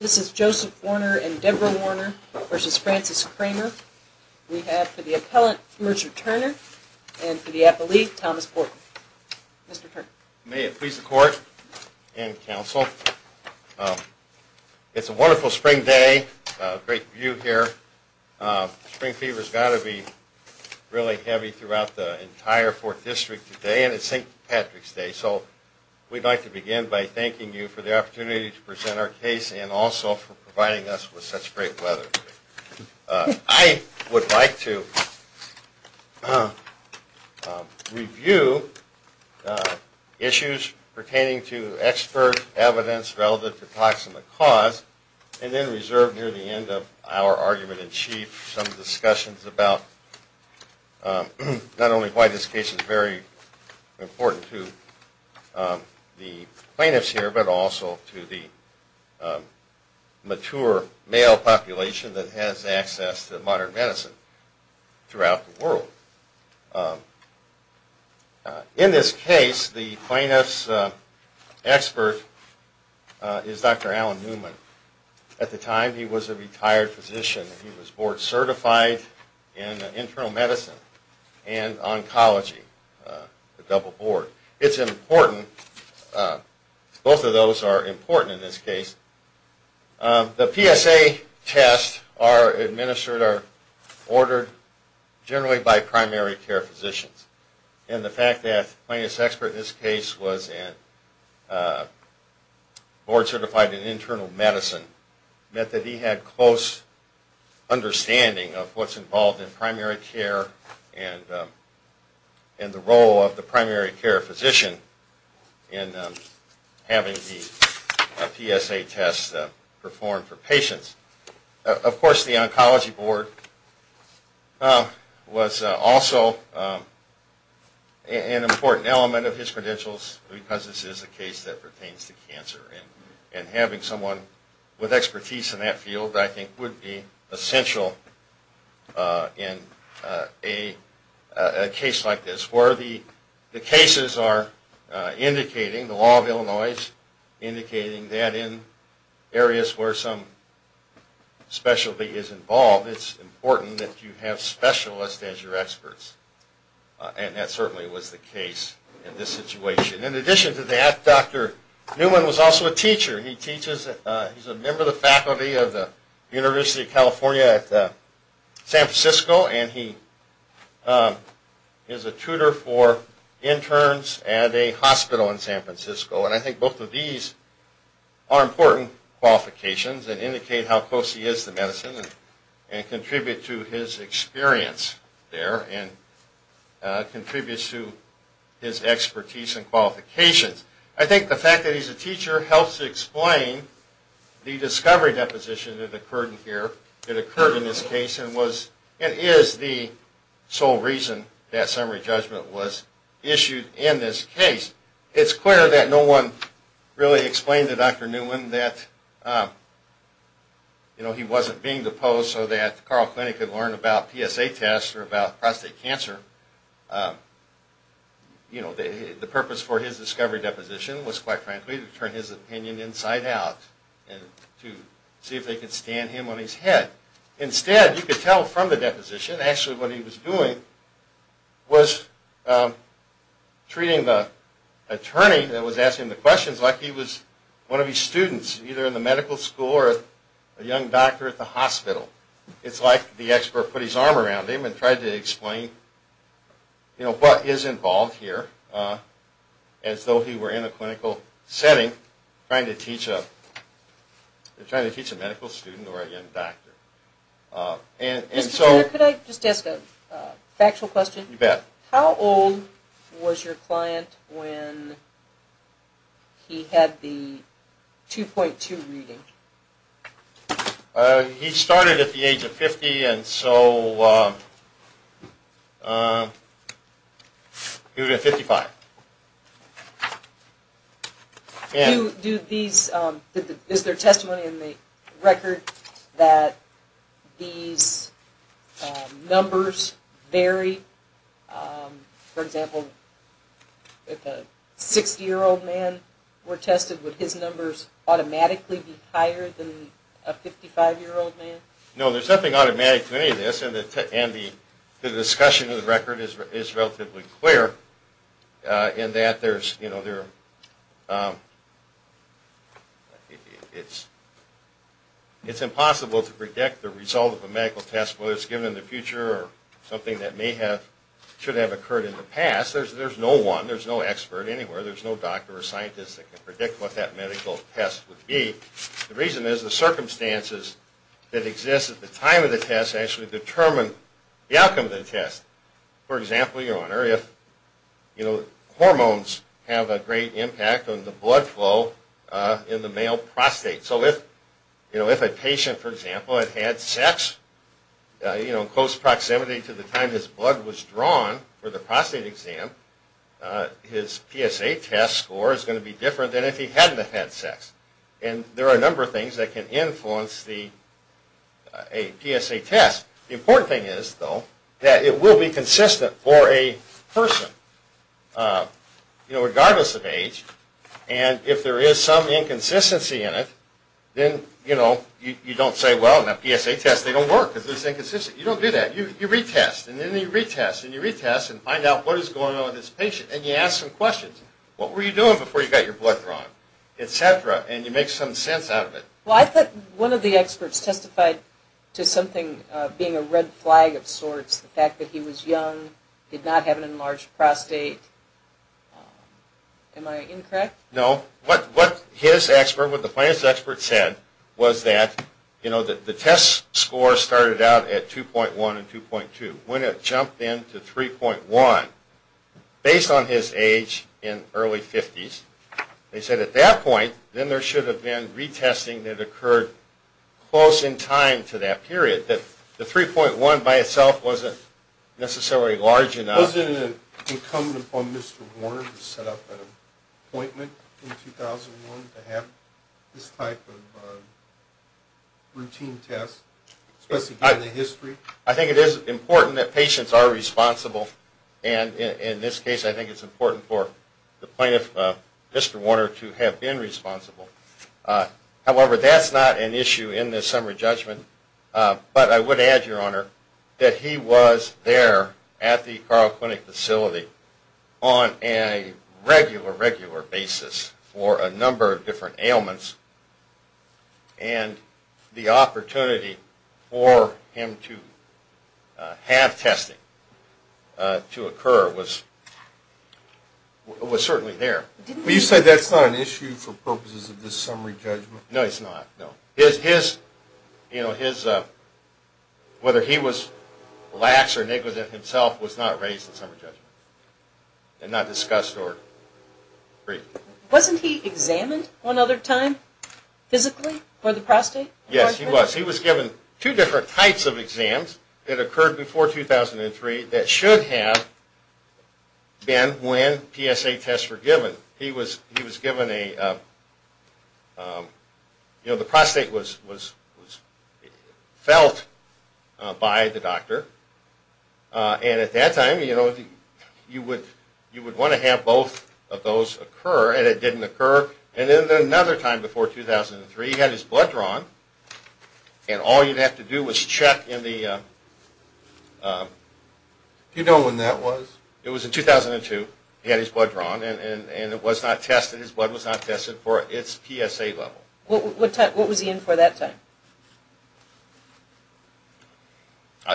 This is Joseph Warner and Debra Warner versus Francis Kramer. We have for the appellant, Mercer Turner, and for the appellee, Thomas Portman. Mr. Turner. May it please the court and counsel, it's a wonderful spring day, great view here. Spring fever's got to be really heavy throughout the entire 4th district today and it's St. Patrick's Day, so we'd like to begin by thanking you for the opportunity to present our case and also for providing us with such great weather. I would like to review issues pertaining to expert evidence relative to toxin of cause and then reserve near the end of our argument in chief some discussions about not only why this case is very important to the plaintiffs here but also to the mature male population that has access to modern medicine throughout the world. In this case, the plaintiff's expert is Dr. Alan Newman. At the time, he was a retired physician. He was board certified in internal medicine and oncology, the double board. It's important, both of those are important in this case. The PSA tests are administered or ordered generally by primary care physicians. And the fact that plaintiff's expert in oncology was board certified in internal medicine meant that he had close understanding of what's involved in primary care and the role of the primary care physician in having the PSA test performed for patients. Of course, the oncology board was also an important element of his credentials because this is a case that pertains to cancer and having someone with expertise in that field I think would be essential in a case like this where the cases are indicating, the law of Illinois is indicating that in areas where some specialty is involved, it's important that you have specialists as your experts. And that certainly was the case in this situation. In addition to that, Dr. Newman was also a teacher. He teaches, he's a member of the faculty of the University of California at San Francisco and he is a tutor for interns at a hospital in San Francisco. And I think both of these are important qualifications that indicate how close he is to medicine and contribute to his experience there and contributes to his expertise and qualifications. I think the fact that he's a teacher helps explain the discovery deposition that occurred in here, that occurred in this case and is the sole reason that summary judgment was issued in this case. It's clear that no one really explained to Dr. Newman that he wasn't being treated. No one in our clinic had learned about PSA tests or about prostate cancer. You know, the purpose for his discovery deposition was quite frankly to turn his opinion inside out and to see if they could stand him on his head. Instead, you could tell from the deposition actually what he was doing was treating the attorney that was asking the questions like he was one of his students either in the medical school or a young doctor at the hospital. It's like the expert put his arm around him and tried to explain, you know, what is involved here as though he were in a clinical setting trying to teach a, trying to teach a medical student or a young doctor. And, and so... Mr. Turner, could I just ask a factual question? You bet. How old was your client when he had the 2.2 reading? He started at the age of 50 and so he was at 55. Do these, is there testimony in the record that these numbers vary? For example, if a 60-year-old man were tested, would his numbers automatically be higher than a 55-year-old man? No, there's nothing automatic to any of this and the discussion of the record is relatively clear in that there's, you know, it's impossible to predict the result of a medical test whether it's given in the future or something that may have, should have occurred in the past. There's no one, there's no expert anywhere, there's no doctor or scientist that can predict what that medical test would be. The reason is the circumstances that exist at the time of the test actually determine the outcome of the test. For example, your honor, if, you know, hormones have a great impact on the blood flow in the male prostate. So if, you know, if a patient, for example, had had sex, you know, in close proximity to the time his blood was drawn for the prostate exam, his PSA test score is going to be different than if he hadn't have had sex. And there are a number of things that can influence the, a PSA test. The important thing is, though, that it will be consistent for a person, you know, regardless of age. And if there is some inconsistency in it, then, you know, you don't say, well, in a PSA test they don't work because it's inconsistent. You don't do that. You retest and then you retest and you retest and find out what is going on with this patient and you ask some questions. What were you doing before you got your blood drawn, etc. And you make some sense out of it. Well, I thought one of the experts testified to something being a red flag of sorts, the fact that he was young, did not have an enlarged prostate. Am I incorrect? No. What his expert, what the plant expert said was that, you know, the test score started out at 2.1 and 2.2. When it jumped in to 3.1, based on his age in early 50s, they said at that point, then there should have been retesting that occurred close in time to that period, that the 3.1 by itself wasn't necessarily large enough. Wasn't it incumbent upon Mr. Warner to set up an appointment in 2001 to have this type of routine test, especially given the history? I think it is important that patients are responsible and in this case, I think it's important for the plaintiff, Mr. Warner, to have been responsible. However, that's not an issue in this summary judgment. But I would add, Your Honor, that he was there at the ailments and the opportunity for him to have testing to occur was certainly there. You said that's not an issue for purposes of this summary judgment? No, it's not, no. His, you know, his, whether he was lax or negligent himself was not raised in summary judgment and not discussed or agreed. Wasn't he examined one other time physically for the prostate? Yes, he was. He was given two different types of exams that occurred before 2003 that should have been when PSA tests were given. He was given a, you know, the prostate was felt by the doctor. And at that time, you know, you would want to have both of those occur and it didn't occur. And then another time before 2003, he had his blood drawn and all you'd have to do was check in the... Do you know when that was? It was in 2002. He had his blood drawn and it was not tested. His blood was not tested for its PSA level. What was he in for that time?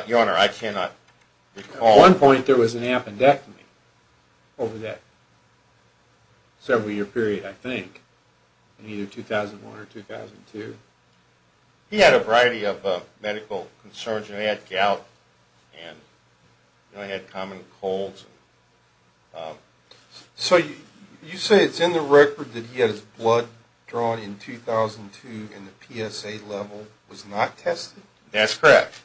Your Honor, I cannot recall. At one point there was an appendectomy over that several year period, I think, in either 2001 or 2002. He had a variety of medical concerns. He had gout and, you know, he had common colds. So you say it's in the record that he had his blood drawn in 2002 and the PSA level was not tested? That's correct.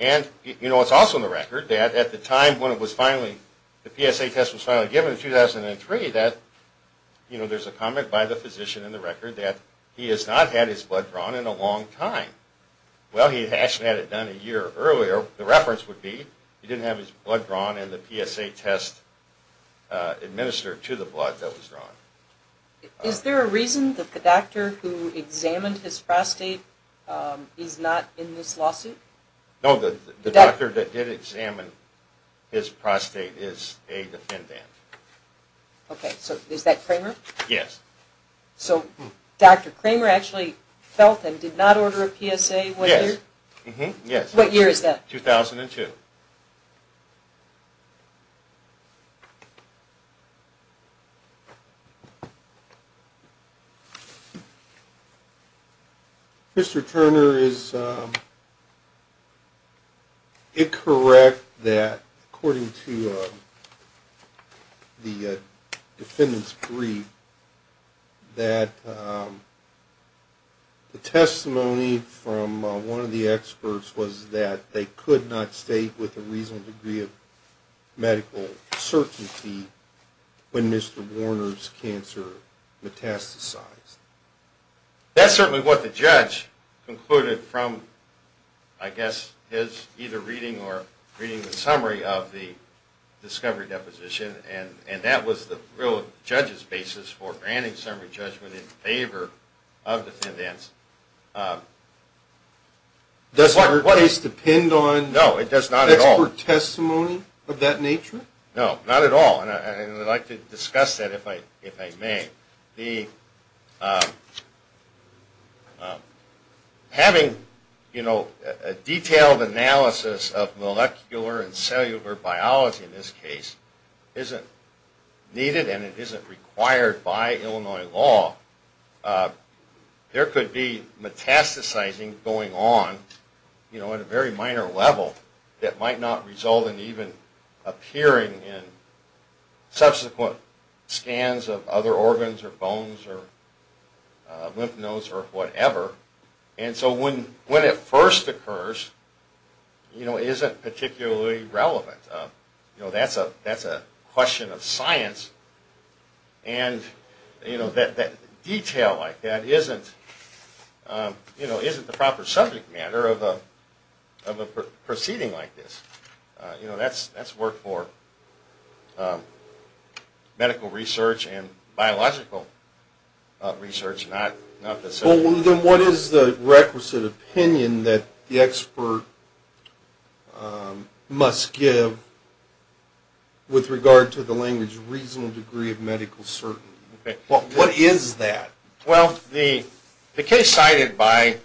And, you know, it's also in the record that at the time when it was finally, the PSA test was finally given in 2003 that, you know, there's a comment by the physician in the record that he has not had his blood drawn in a long time. Well, he actually had it done a year earlier. The reference would be he didn't have his blood drawn and the PSA test administered to the blood that was drawn. Is there a reason that the doctor who examined his prostate is not in this lawsuit? No, the doctor that did examine his prostate is a defendant. Okay, so is that Kramer? Yes. So Dr. Kramer actually felt and did not order a PSA one year? Yes. What year is that? 2002. Mr. Turner, is it correct that according to the defendant's brief that the testimony from one of the experts was that they could not state with a reasonable degree of medical certainty when Mr. Warner's cancer metastasized? That's certainly what the judge concluded from, I guess, his either reading or reading the summary of the discovery deposition and that was the real judge's basis for granting the summary judgment in favor of the defendants. Does your case depend on expert testimony of that nature? No, not at all, and I'd like to discuss that if I may. Having a detailed analysis of molecular and cellular biology in this case isn't needed and it isn't required by Illinois law. There could be metastasizing going on at a very minor level that might not result in even appearing in subsequent scans of other organs or bones or lymph nodes or whatever. And so when it first occurs, it isn't particularly relevant. That's a question of science and detail like that isn't the proper subject matter of a proceeding like this. That's work for medical research and biological research, not the... Then what is the requisite opinion that the expert must give with regard to the language reasonable degree of medical certainty? What is that? Well, the case cited by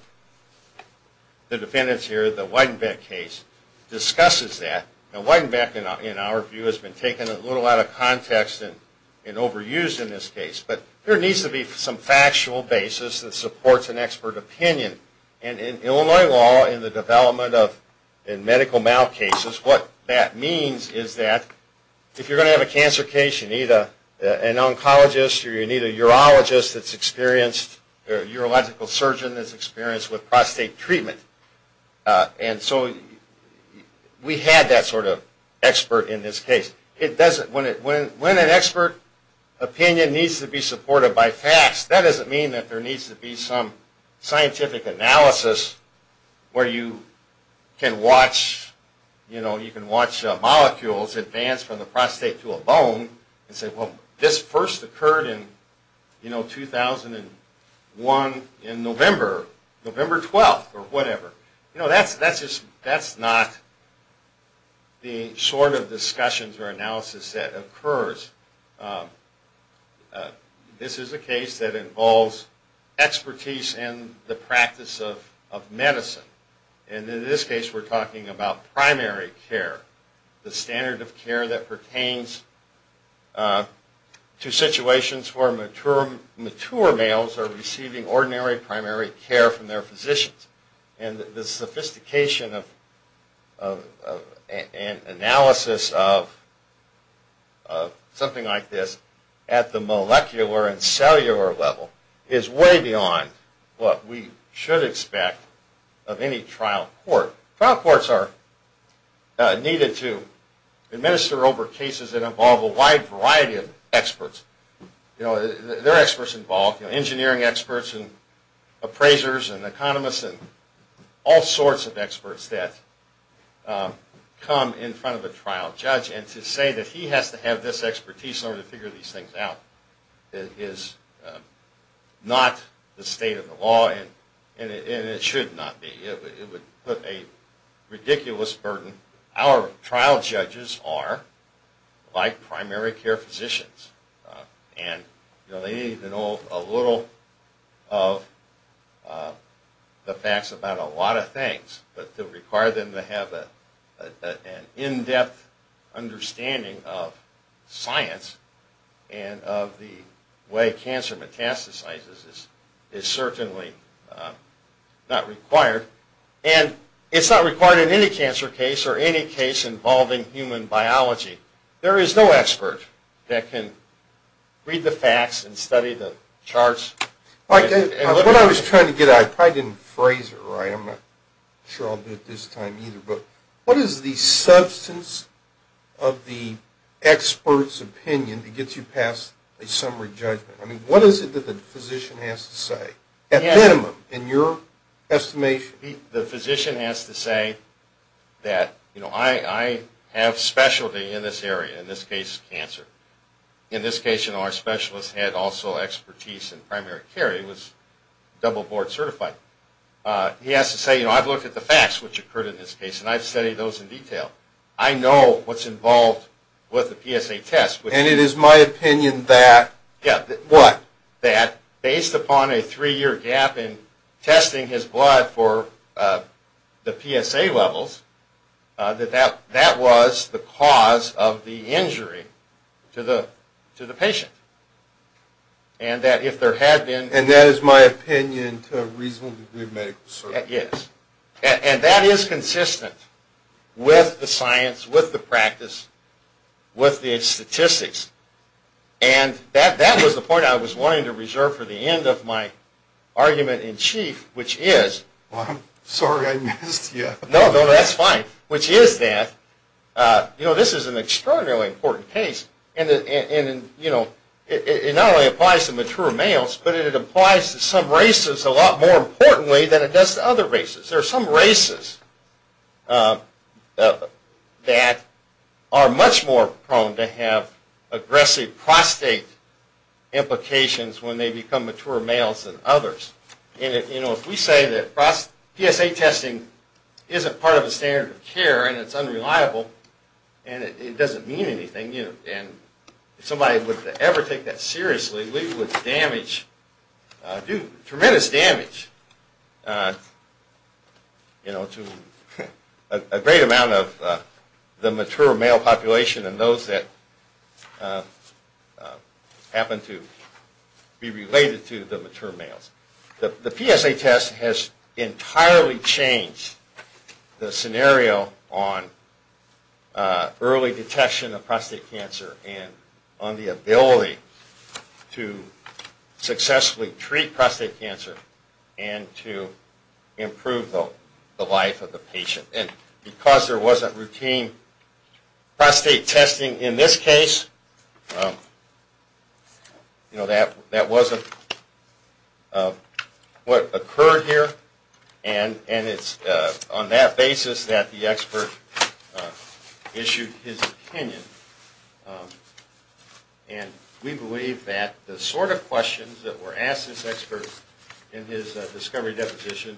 the defendants here, the Weidenbeck case, discusses that. Now Weidenbeck, in our view, has been taken a little out of context and overused in this case, but there needs to be some factual basis that supports an expert opinion. And in Illinois law, in the development of medical mal cases, what that means is that if you're going to have a cancer case, you need an oncologist or you need a urologist that's experienced or a urological surgeon that's experienced with prostate treatment. And so we had that sort of expert in this case. When an expert opinion needs to be supported by facts, that doesn't mean that there needs to be some scientific analysis where you can watch molecules advance from the prostate to a bone and say, well, this first occurred in 2001 in November, November 12th or whatever. You know, that's not the sort of discussions or analysis that occurs. This is a case that involves expertise in the practice of medicine. And in this case, we're talking about primary care, the standard of care that pertains to the sophistication of analysis of something like this at the molecular and cellular level is way beyond what we should expect of any trial court. Trial courts are needed to administer over cases that involve a wide variety of experts. There are experts involved, engineering experts and appraisers and economists and all sorts of experts that come in front of a trial judge and to say that he has to have this expertise in order to figure these things out is not the state of the law and it should not be. It would put a ridiculous burden. Our trial judges are like primary care physicians and they need to know a little of the facts about a lot of things, but to require them to have an in-depth understanding of science and of the way cancer metastasizes is certainly not required. And it's not required in any cancer case or any case involving human biology. There is no expert that can read the facts and study the charts. What I was trying to get at, I probably didn't phrase it right, I'm not sure I'll do it this time either, but what is the substance of the expert's opinion that gets you past a summary judgment? I mean, what is it that the physician has to say, at minimum, in your estimation? The physician has to say that, you know, I have specialty in this area, in this case cancer. In this case, you know, our specialist had also expertise in primary care. He was double board certified. He has to say, you know, I've looked at the facts which occurred in this case and I've studied those in detail. I know what's involved with the PSA test. And it is my opinion that, what? That based upon a three-year gap in testing his blood for the PSA levels, that that was the cause of the injury to the patient. And that if there had been... And that is my opinion to a reasonable degree of medical certainty. And that is consistent with the science, with the practice, with the statistics. And that was the point I was wanting to reserve for the end of my argument in chief, which is... I'm sorry I missed you. No, no, that's fine. Which is that, you know, this is an extraordinarily important case. And, you know, it not only applies to mature males, but it applies to some races a lot more importantly than it does to other races. There are some races that are much more prone to have aggressive prostate implications when they become mature males than others. And, you know, if we say that PSA testing isn't part of the standard of care, and it's unreliable, and it doesn't mean anything, and if somebody would ever take that seriously, we would damage... do tremendous damage, you know, to a great amount of the mature male population and those that happen to be related to the mature males. The PSA test has entirely changed the scenario on early detection of prostate cancer and on the ability to successfully treat prostate cancer and to improve the life of the patient. And because there wasn't routine prostate testing in this case, you know, that wasn't what occurred here. And it's on that basis that the expert issued his opinion. And we believe that the sort of questions that were asked this expert in his discovery deposition,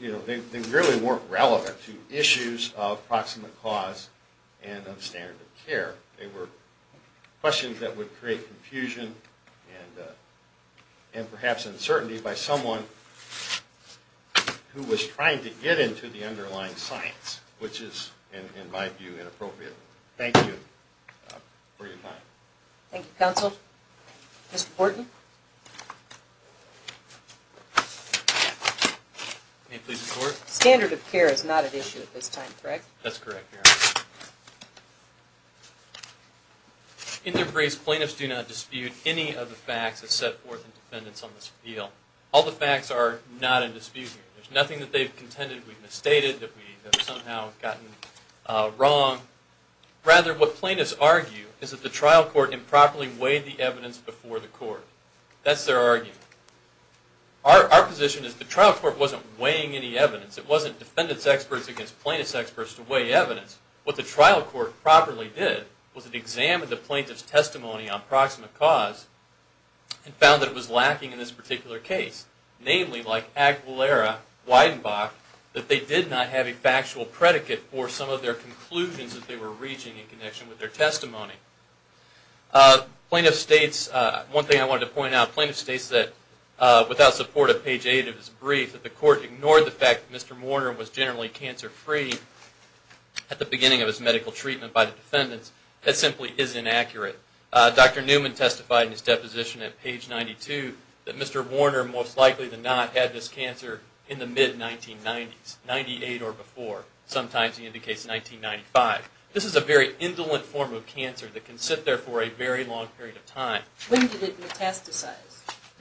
you know, they really weren't relevant to issues of proximate cause and of standard of care. They were questions that would create confusion and perhaps uncertainty by someone who was trying to get into the underlying science, which is, in my view, inappropriate. Thank you for your time. Thank you, counsel. Mr. Wharton? May I please report? Standard of care is not at issue at this time, correct? That's correct, Your Honor. In their grace, plaintiffs do not dispute any of the facts that set forth in defendants on this appeal. All the facts are not in dispute here. There's nothing that they've contended we've misstated, that we have somehow gotten wrong. Rather, what plaintiffs argue is that the trial court improperly weighed the evidence before the court. That's their argument. Our position is the trial court wasn't weighing any evidence. It wasn't defendants' experts against plaintiffs' experts to weigh evidence. What the trial court properly did was it examined the plaintiff's testimony on proximate cause and found that it was lacking in this particular case. Namely, like Aguilera, Weidenbach, that they did not have a factual predicate for some of their conclusions that they were reaching in connection with their testimony. Plaintiff states, one thing I wanted to point out, plaintiff states that without support of page 8 of his brief, that the court ignored the fact that Mr. Warner was generally cancer free at the beginning of his medical treatment by the defendants. That simply is inaccurate. Dr. Newman testified in his deposition at page 92 that Mr. Warner most likely than not had this cancer in the mid-1990s, 98 or before. Sometimes he indicates 1995. This is a very indolent form of cancer that can sit there for a very long period of time. When did it metastasize?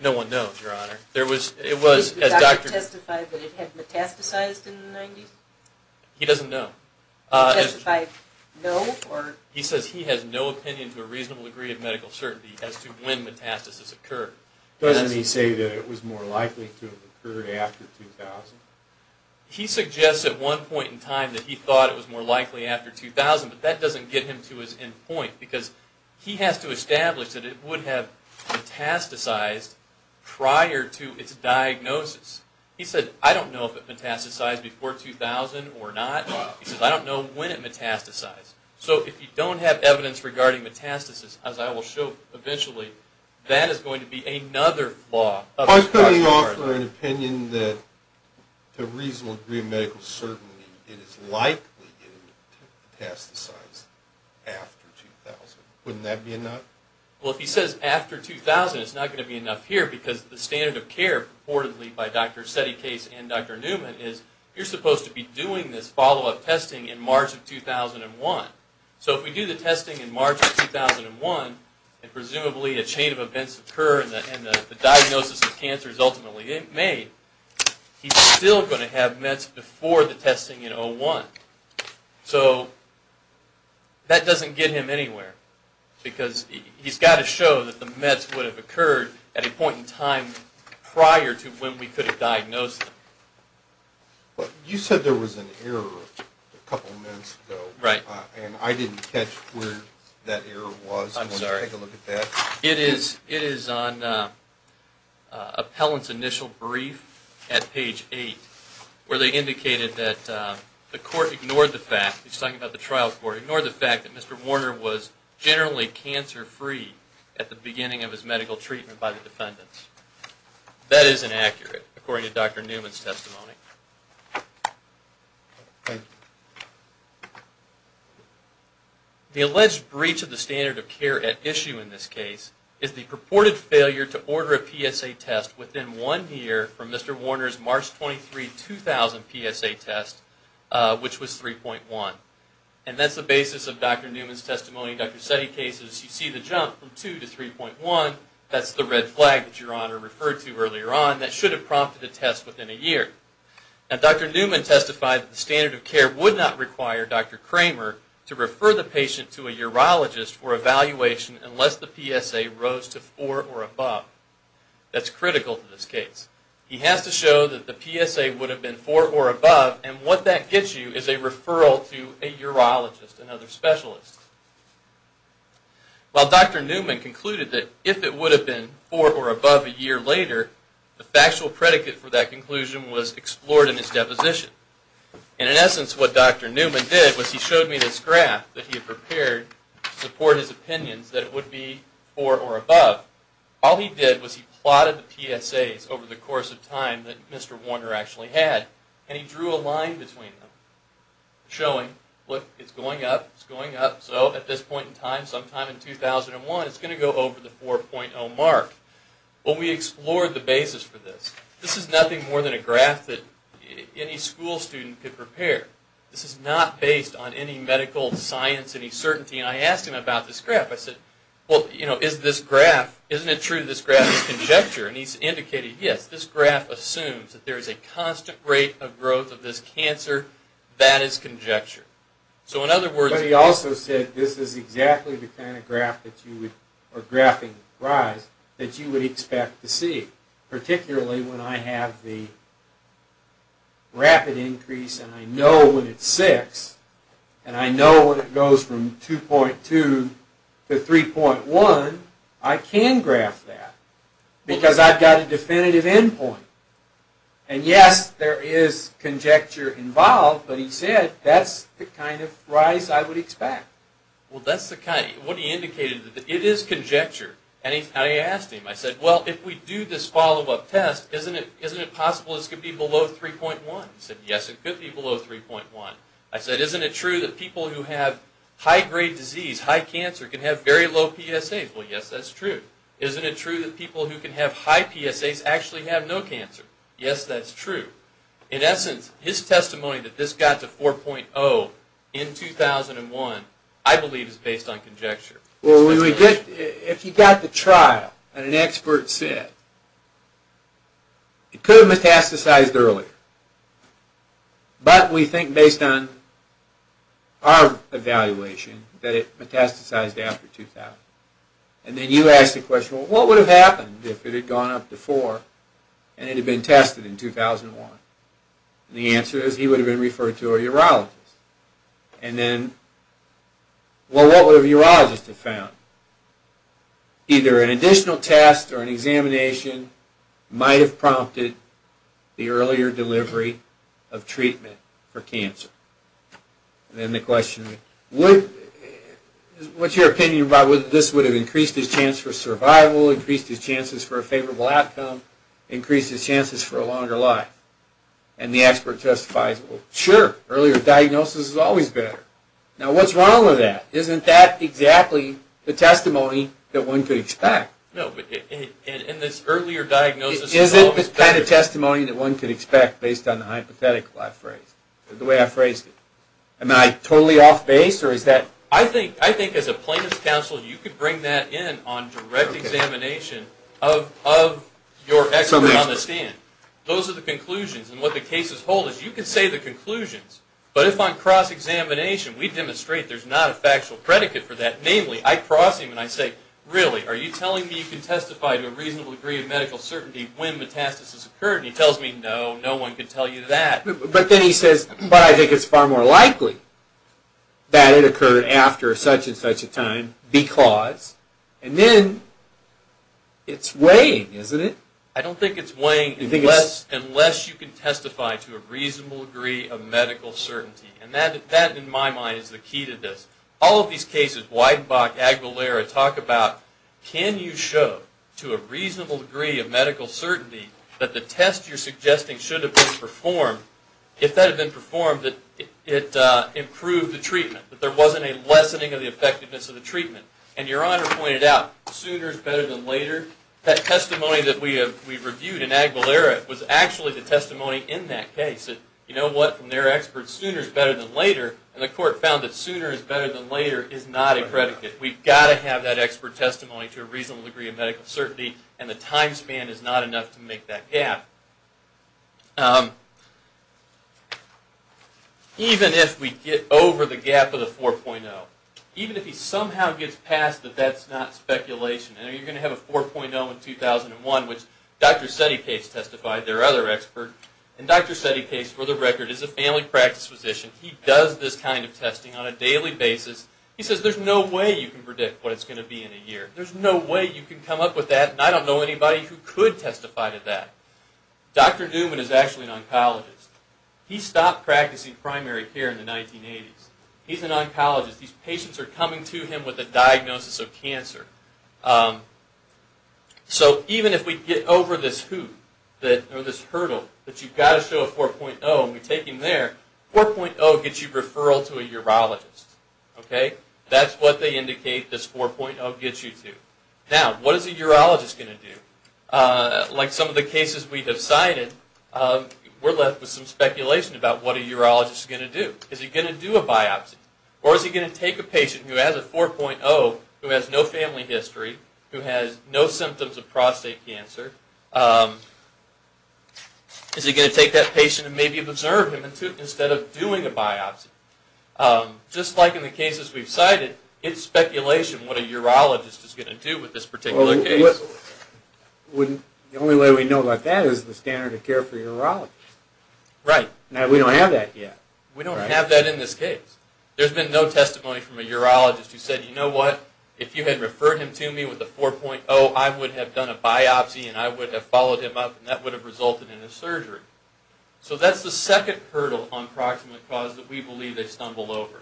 No one knows, Your Honor. Did the doctor testify that it had metastasized in the 90s? He doesn't know. Did he testify no? He says he has no opinion to a reasonable degree of medical certainty as to when metastasis occurred. Doesn't he say that it was more likely to have occurred after 2000? He suggests at one point in time that he thought it was more likely after 2000, but that doesn't get him to his end point because he has to establish that it would have metastasized prior to its diagnosis. He said, I don't know if it metastasized before 2000 or not. He says, I don't know when it metastasized. So if you don't have evidence regarding metastasis, as I will show eventually, that is going to be another flaw. I'm coming off for an opinion that to a reasonable degree of medical certainty it is likely to metastasize after 2000. Wouldn't that be enough? Well, if he says after 2000, it's not going to be enough here because the standard of care purportedly by Dr. Settecase and Dr. Newman is you're supposed to be doing this follow-up testing in March of 2001. So if we do the testing in March of 2001 and presumably a chain of events occur and the diagnosis of cancer is ultimately made, he's still going to have METs before the testing in 2001. So that doesn't get him anywhere because he's got to show that the METs would have occurred at a point in time prior to when we could have diagnosed them. You said there was an error a couple of minutes ago. Right. And I didn't catch where that error was. I'm sorry. Take a look at that. It is on appellant's initial brief at page 8 where they indicated that the court ignored the fact, he's talking about the trial court, ignored the fact that Mr. Warner was generally cancer-free at the beginning of his medical treatment by the defendants. That is inaccurate according to Dr. Newman's testimony. The alleged breach of the standard of care at issue in this case is the purported failure to order a PSA test within one year from Mr. Warner's March 23, 2000 PSA test, which was 3.1. And that's the basis of Dr. Newman's testimony and Dr. Settecase's. You see the jump from 2 to 3.1. That's the red flag that Your Honor referred to earlier on that should have prompted a test within a year. And Dr. Newman testified that the standard of care would not require Dr. Kramer to refer the patient to a urologist for evaluation unless the PSA rose to 4 or above. That's critical to this case. He has to show that the PSA would have been 4 or above, and what that gets you is a referral to a urologist, another specialist. While Dr. Newman concluded that if it would have been 4 or above a year later, the factual predicate for that conclusion was explored in his deposition. And in essence, what Dr. Newman did was he showed me this graph that he had prepared to support his opinions that it would be 4 or above. All he did was he plotted the PSAs over the course of time that Mr. Warner actually had, and he drew a line between them showing, look, it's going up, it's going up. So at this point in time, sometime in 2001, it's going to go over the 4.0 mark. Well, we explored the basis for this. This is nothing more than a graph that any school student could prepare. This is not based on any medical science, any certainty. And I asked him about this graph. I said, well, you know, isn't it true this graph is conjecture? And he's indicated, yes, this graph assumes that there is a constant rate of growth of this cancer. That is conjecture. But he also said this is exactly the kind of graph that you would, or graphing rise, that you would expect to see, particularly when I have the rapid increase and I know when it's 6, and I know when it goes from 2.2 to 3.1, I can graph that because I've got a definitive endpoint. And yes, there is conjecture involved, but he said that's the kind of rise I would expect. Well, that's the kind, what he indicated, it is conjecture. And I asked him, I said, well, if we do this follow-up test, isn't it possible this could be below 3.1? He said, yes, it could be below 3.1. I said, isn't it true that people who have high-grade disease, high cancer, can have very low PSAs? Well, yes, that's true. I said, isn't it true that people who can have high PSAs actually have no cancer? Yes, that's true. In essence, his testimony that this got to 4.0 in 2001, I believe is based on conjecture. Well, if you got the trial and an expert said, it could have metastasized earlier, but we think based on our evaluation that it metastasized after 2000. And then you ask the question, well, what would have happened if it had gone up to 4.0 and it had been tested in 2001? And the answer is he would have been referred to a urologist. And then, well, what would a urologist have found? Either an additional test or an examination might have prompted the earlier delivery of treatment for cancer. And then the question, what's your opinion about whether this would have increased his chance for survival, increased his chances for a favorable outcome, increased his chances for a longer life? And the expert testifies, well, sure, earlier diagnosis is always better. Now, what's wrong with that? Isn't that exactly the testimony that one could expect? No, but in this earlier diagnosis, it's always better. Isn't this the kind of testimony that one could expect based on the hypothetical? The way I phrased it. Am I totally off base, or is that? I think as a plaintiff's counsel, you could bring that in on direct examination of your expert on the stand. Those are the conclusions, and what the cases hold is you can say the conclusions, but if on cross-examination we demonstrate there's not a factual predicate for that, namely I cross him and I say, really, are you telling me you can testify to a reasonable degree of medical certainty when metastasis occurred? And he tells me, no, no one could tell you that. But then he says, but I think it's far more likely that it occurred after such and such a time because, and then it's weighing, isn't it? I don't think it's weighing unless you can testify to a reasonable degree of medical certainty, and that in my mind is the key to this. All of these cases, Weidenbach, Aguilera, talk about can you show to a reasonable degree of medical certainty that the test you're suggesting should have been performed, if that had been performed, that it improved the treatment, that there wasn't a lessening of the effectiveness of the treatment. And Your Honor pointed out, sooner is better than later. That testimony that we reviewed in Aguilera was actually the testimony in that case. You know what? From their experts, sooner is better than later, and the court found that sooner is better than later is not a predicate. We've got to have that expert testimony to a reasonable degree of medical certainty, and the time span is not enough to make that gap. Even if we get over the gap of the 4.0, even if he somehow gets past that that's not speculation, and you're going to have a 4.0 in 2001, which Dr. Settecase testified, their other expert, and Dr. Settecase, for the record, is a family practice physician. He does this kind of testing on a daily basis. He says there's no way you can predict what it's going to be in a year. There's no way you can come up with that, and I don't know anybody who could testify to that. Dr. Newman is actually an oncologist. He stopped practicing primary care in the 1980s. He's an oncologist. These patients are coming to him with a diagnosis of cancer. So even if we get over this hoop, or this hurdle, that you've got to show a 4.0, and we take him there, 4.0 gets you referral to a urologist. That's what they indicate this 4.0 gets you to. Now, what is a urologist going to do? Like some of the cases we have cited, we're left with some speculation about what a urologist is going to do. Is he going to do a biopsy? Or is he going to take a patient who has a 4.0, who has no family history, who has no symptoms of prostate cancer, is he going to take that patient and maybe observe him instead of doing a biopsy? Just like in the cases we've cited, it's speculation what a urologist is going to do with this particular case. The only way we know about that is the standard of care for urologists. Right. Now, we don't have that yet. We don't have that in this case. There's been no testimony from a urologist who said, you know what, if you had referred him to me with a 4.0, I would have done a biopsy, and I would have followed him up, and that would have resulted in a surgery. So that's the second hurdle on proximate cause that we believe they've stumbled over.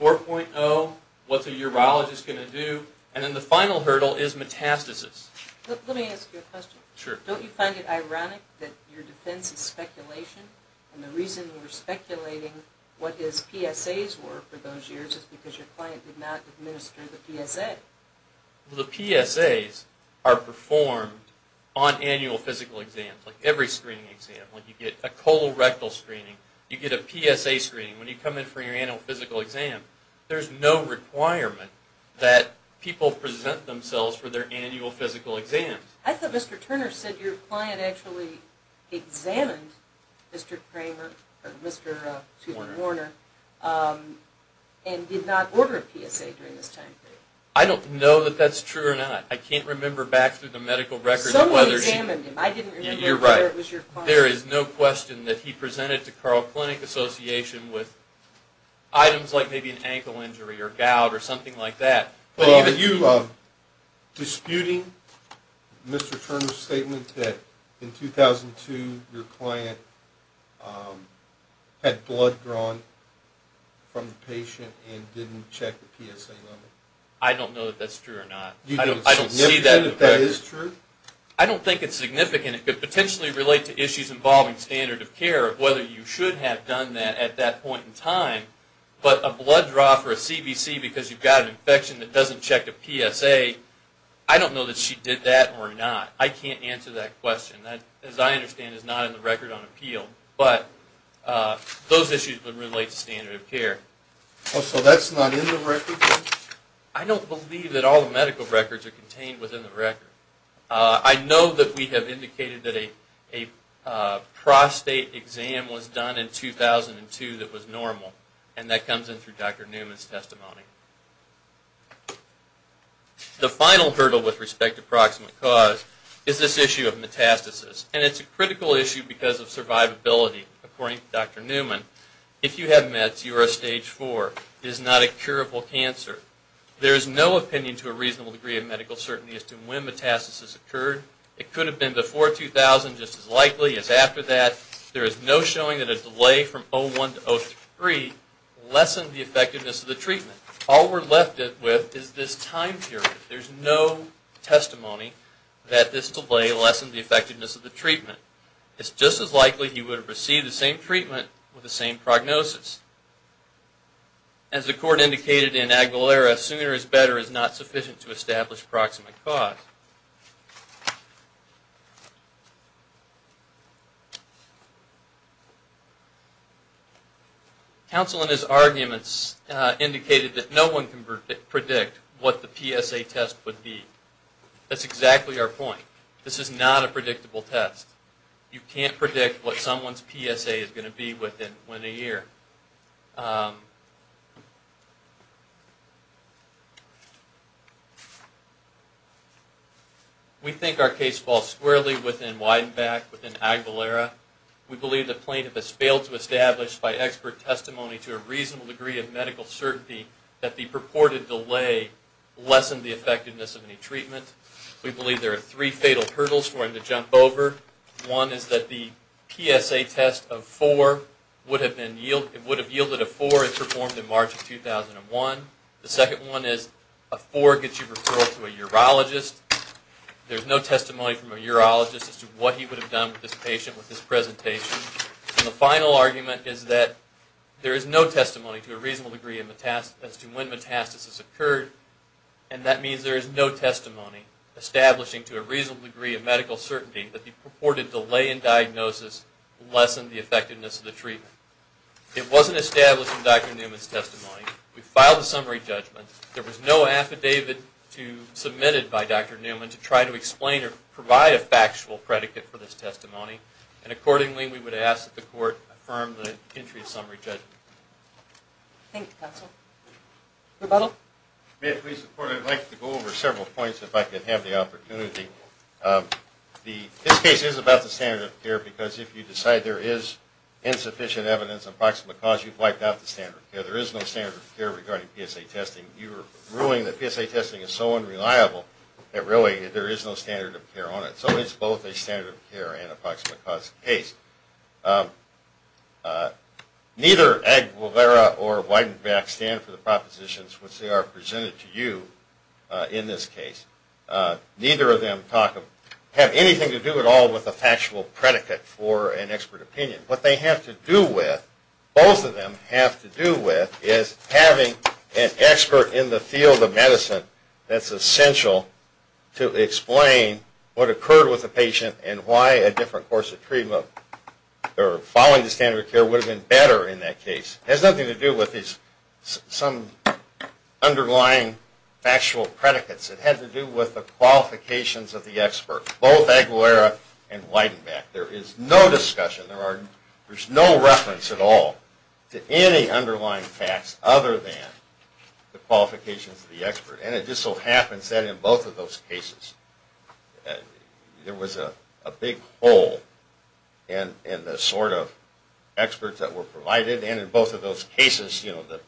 4.0, what's a urologist going to do? And then the final hurdle is metastasis. Let me ask you a question. Sure. Don't you find it ironic that your defense is speculation, and the reason we're speculating what his PSAs were for those years is because your client did not administer the PSA? The PSAs are performed on annual physical exams, like every screening exam. When you get a colorectal screening, you get a PSA screening. When you come in for your annual physical exam, there's no requirement that people present themselves for their annual physical exams. I thought Mr. Turner said your client actually examined Mr. Kramer, or Mr. Warner, and did not order a PSA during this time period. I don't know that that's true or not. I can't remember back through the medical records whether she... Someone examined him. I didn't remember whether it was your client. You're right. There is no question that he presented to Carl Clinic Association with items like maybe an ankle injury or gout or something like that. But are you disputing Mr. Turner's statement that in 2002 your client had blood drawn from the patient and didn't check the PSA level? I don't know if that's true or not. Do you think it's significant that that is true? I don't think it's significant. It could potentially relate to issues involving standard of care, whether you should have done that at that point in time. But a blood draw for a CBC because you've got an infection that doesn't check a PSA, I don't know that she did that or not. I can't answer that question. That, as I understand, is not in the record on appeal. But those issues would relate to standard of care. Okay. So that's not in the record? I don't believe that all the medical records are contained within the record. I know that we have indicated that a prostate exam was done in 2002 that was normal. And that comes in through Dr. Newman's testimony. The final hurdle with respect to proximate cause is this issue of metastasis. And it's a critical issue because of survivability. According to Dr. Newman, if you have meds, you are at stage four. It is not a curable cancer. There is no opinion to a reasonable degree of medical certainty as to when metastasis occurred. It could have been before 2000, just as likely as after that. There is no showing that a delay from 2001 to 2003 lessened the effectiveness of the treatment. All we're left with is this time period. There's no testimony that this delay lessened the effectiveness of the treatment. It's just as likely he would have received the same treatment with the same prognosis. As the court indicated in Aguilera, sooner is better is not sufficient to establish proximate cause. Counsel in his arguments indicated that no one can predict what the PSA test would be. That's exactly our point. This is not a predictable test. You can't predict what someone's PSA is going to be within a year. We think our case falls squarely within Weidenbach, within Aguilera. We believe the plaintiff has failed to establish by expert testimony to a reasonable degree of medical certainty that the purported delay lessened the effectiveness of any treatment. We believe there are three fatal hurdles for him to jump over. One is that the PSA test of four would have yielded a four if performed in March of 2001. The second one is a four gets you referred to a urologist. There's no testimony from a urologist as to what he would have done with this patient with this presentation. The final argument is that there is no testimony to a reasonable degree as to when metastasis occurred. That means there is no testimony establishing to a reasonable degree of medical certainty that the purported delay in diagnosis lessened the effectiveness of the treatment. It wasn't established in Dr. Newman's testimony. We filed a summary judgment. There was no affidavit submitted by Dr. Newman to try to explain or provide a factual predicate for this testimony. Accordingly, we would ask that the court affirm the entry of summary judgment. Thank you, Counsel. Rebuttal. May it please the Court, I'd like to go over several points if I could have the opportunity. This case is about the standard of care because if you decide there is insufficient evidence of approximate cause, you've wiped out the standard of care. There is no standard of care regarding PSA testing. You are ruling that PSA testing is so unreliable that really there is no standard of care on it. So it's both a standard of care and approximate cause case. Neither Aguilera or Weidenbach stand for the propositions which they are presented to you in this case. Neither of them have anything to do at all with a factual predicate for an expert opinion. What they have to do with, both of them have to do with, is having an expert in the field of medicine that's essential to explain what occurred with the patient and why a different course of treatment or following the standard of care would have been better in that case. It has nothing to do with some underlying factual predicates. It had to do with the qualifications of the expert, both Aguilera and Weidenbach. There is no discussion, there's no reference at all to any underlying facts other than the qualifications of the expert. And it just so happens that in both of those cases, there was a big hole in the sort of experts that were provided. And in both of those cases, you know, the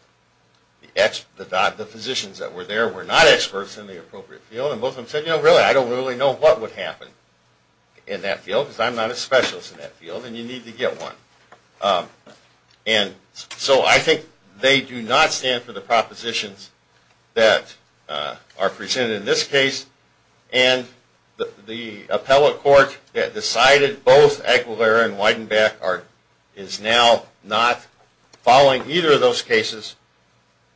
physicians that were there were not experts in the appropriate field. And both of them said, you know, really, I don't really know what would happen in that field, because I'm not a specialist in that field and you need to get one. And so I think they do not stand for the propositions that are presented in this case. And the appellate court that decided both Aguilera and Weidenbach is now not following either of those cases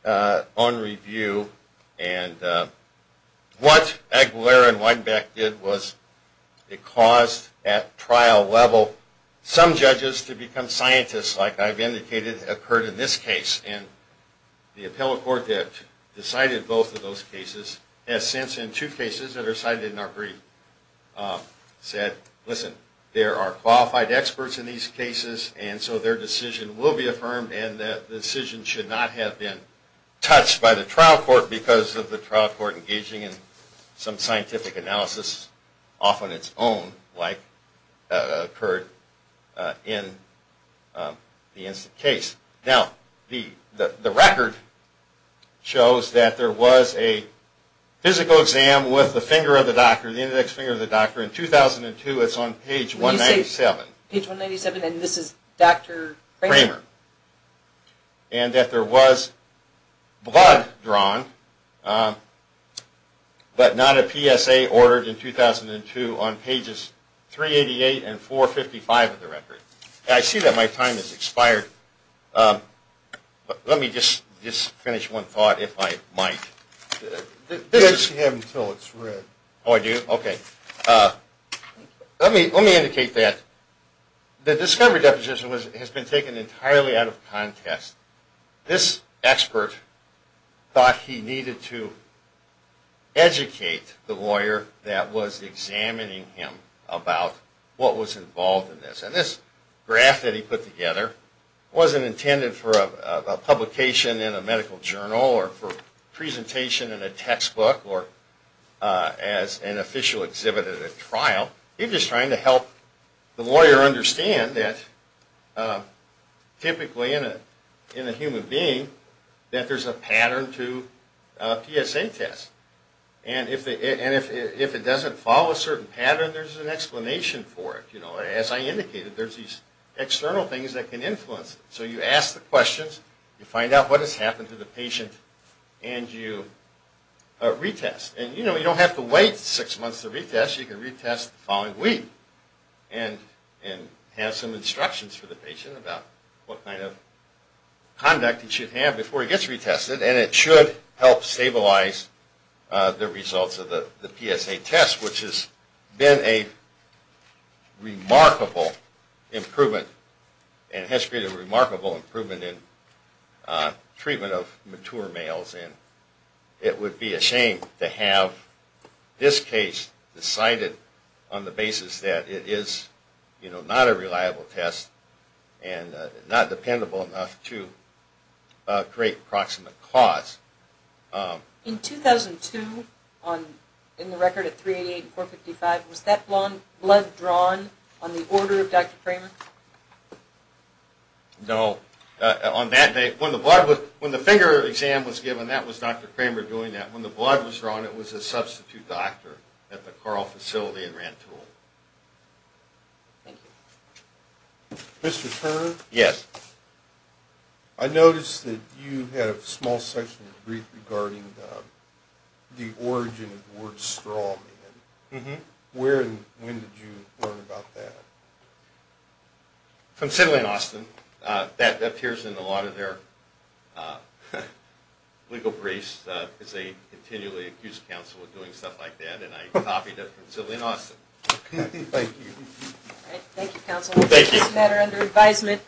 on review. And what Aguilera and Weidenbach did was it caused at trial level some judges to become scientists, like I've indicated occurred in this case. And the appellate court that decided both of those cases has since in two cases that are cited in our brief said, listen, there are qualified experts in these cases and so their decision will be affirmed and the decision should not have been touched by the trial court because of the trial court engaging in some scientific analysis, often its own, like occurred in the incident case. Now, the record shows that there was a physical exam with the index finger of the doctor in 2002. It's on page 197. Page 197 and this is Dr. Kramer? Kramer. And that there was blood drawn, but not a PSA ordered in 2002 on pages 388 and 455 of the record. I see that my time has expired. Let me just finish one thought if I might. You have until it's read. Oh, I do? Okay. Let me indicate that the discovery deposition has been taken entirely out of contest. This expert thought he needed to educate the lawyer that was examining him about what was involved in this. And this graph that he put together wasn't intended for a publication in a medical journal or for presentation in a textbook or as an official exhibit at a trial. He was just trying to help the lawyer understand that typically in a human being that there's a pattern to a PSA test. And if it doesn't follow a certain pattern, there's an explanation for it. As I indicated, there's these external things that can influence it. So you ask the questions, you find out what has happened to the patient, and you retest. And you don't have to wait six months to retest. You can retest the following week and have some instructions for the patient about what kind of conduct it should have before it gets retested. And it should help stabilize the results of the PSA test, which has been a remarkable improvement and has created a remarkable improvement in treatment of mature males. And it would be a shame to have this case decided on the basis that it is not a reliable test and not dependable enough to create proximate cause. In 2002, in the record of 388 and 455, was that blood drawn on the order of Dr. Kramer? No. On that day, when the finger exam was given, that was Dr. Kramer doing that. When the blood was drawn, it was a substitute doctor at the Carl facility in Rantoul. Thank you. Mr. Turner? Yes. I noticed that you had a small section in the brief regarding the origin of the word straw man. Mm-hmm. Where and when did you learn about that? From Sidley and Austin. That appears in a lot of their legal briefs, because they continually accuse counsel of doing stuff like that. And I copied it from Sidley and Austin. Thank you. Thank you, counsel. Thank you. This matter under advisement.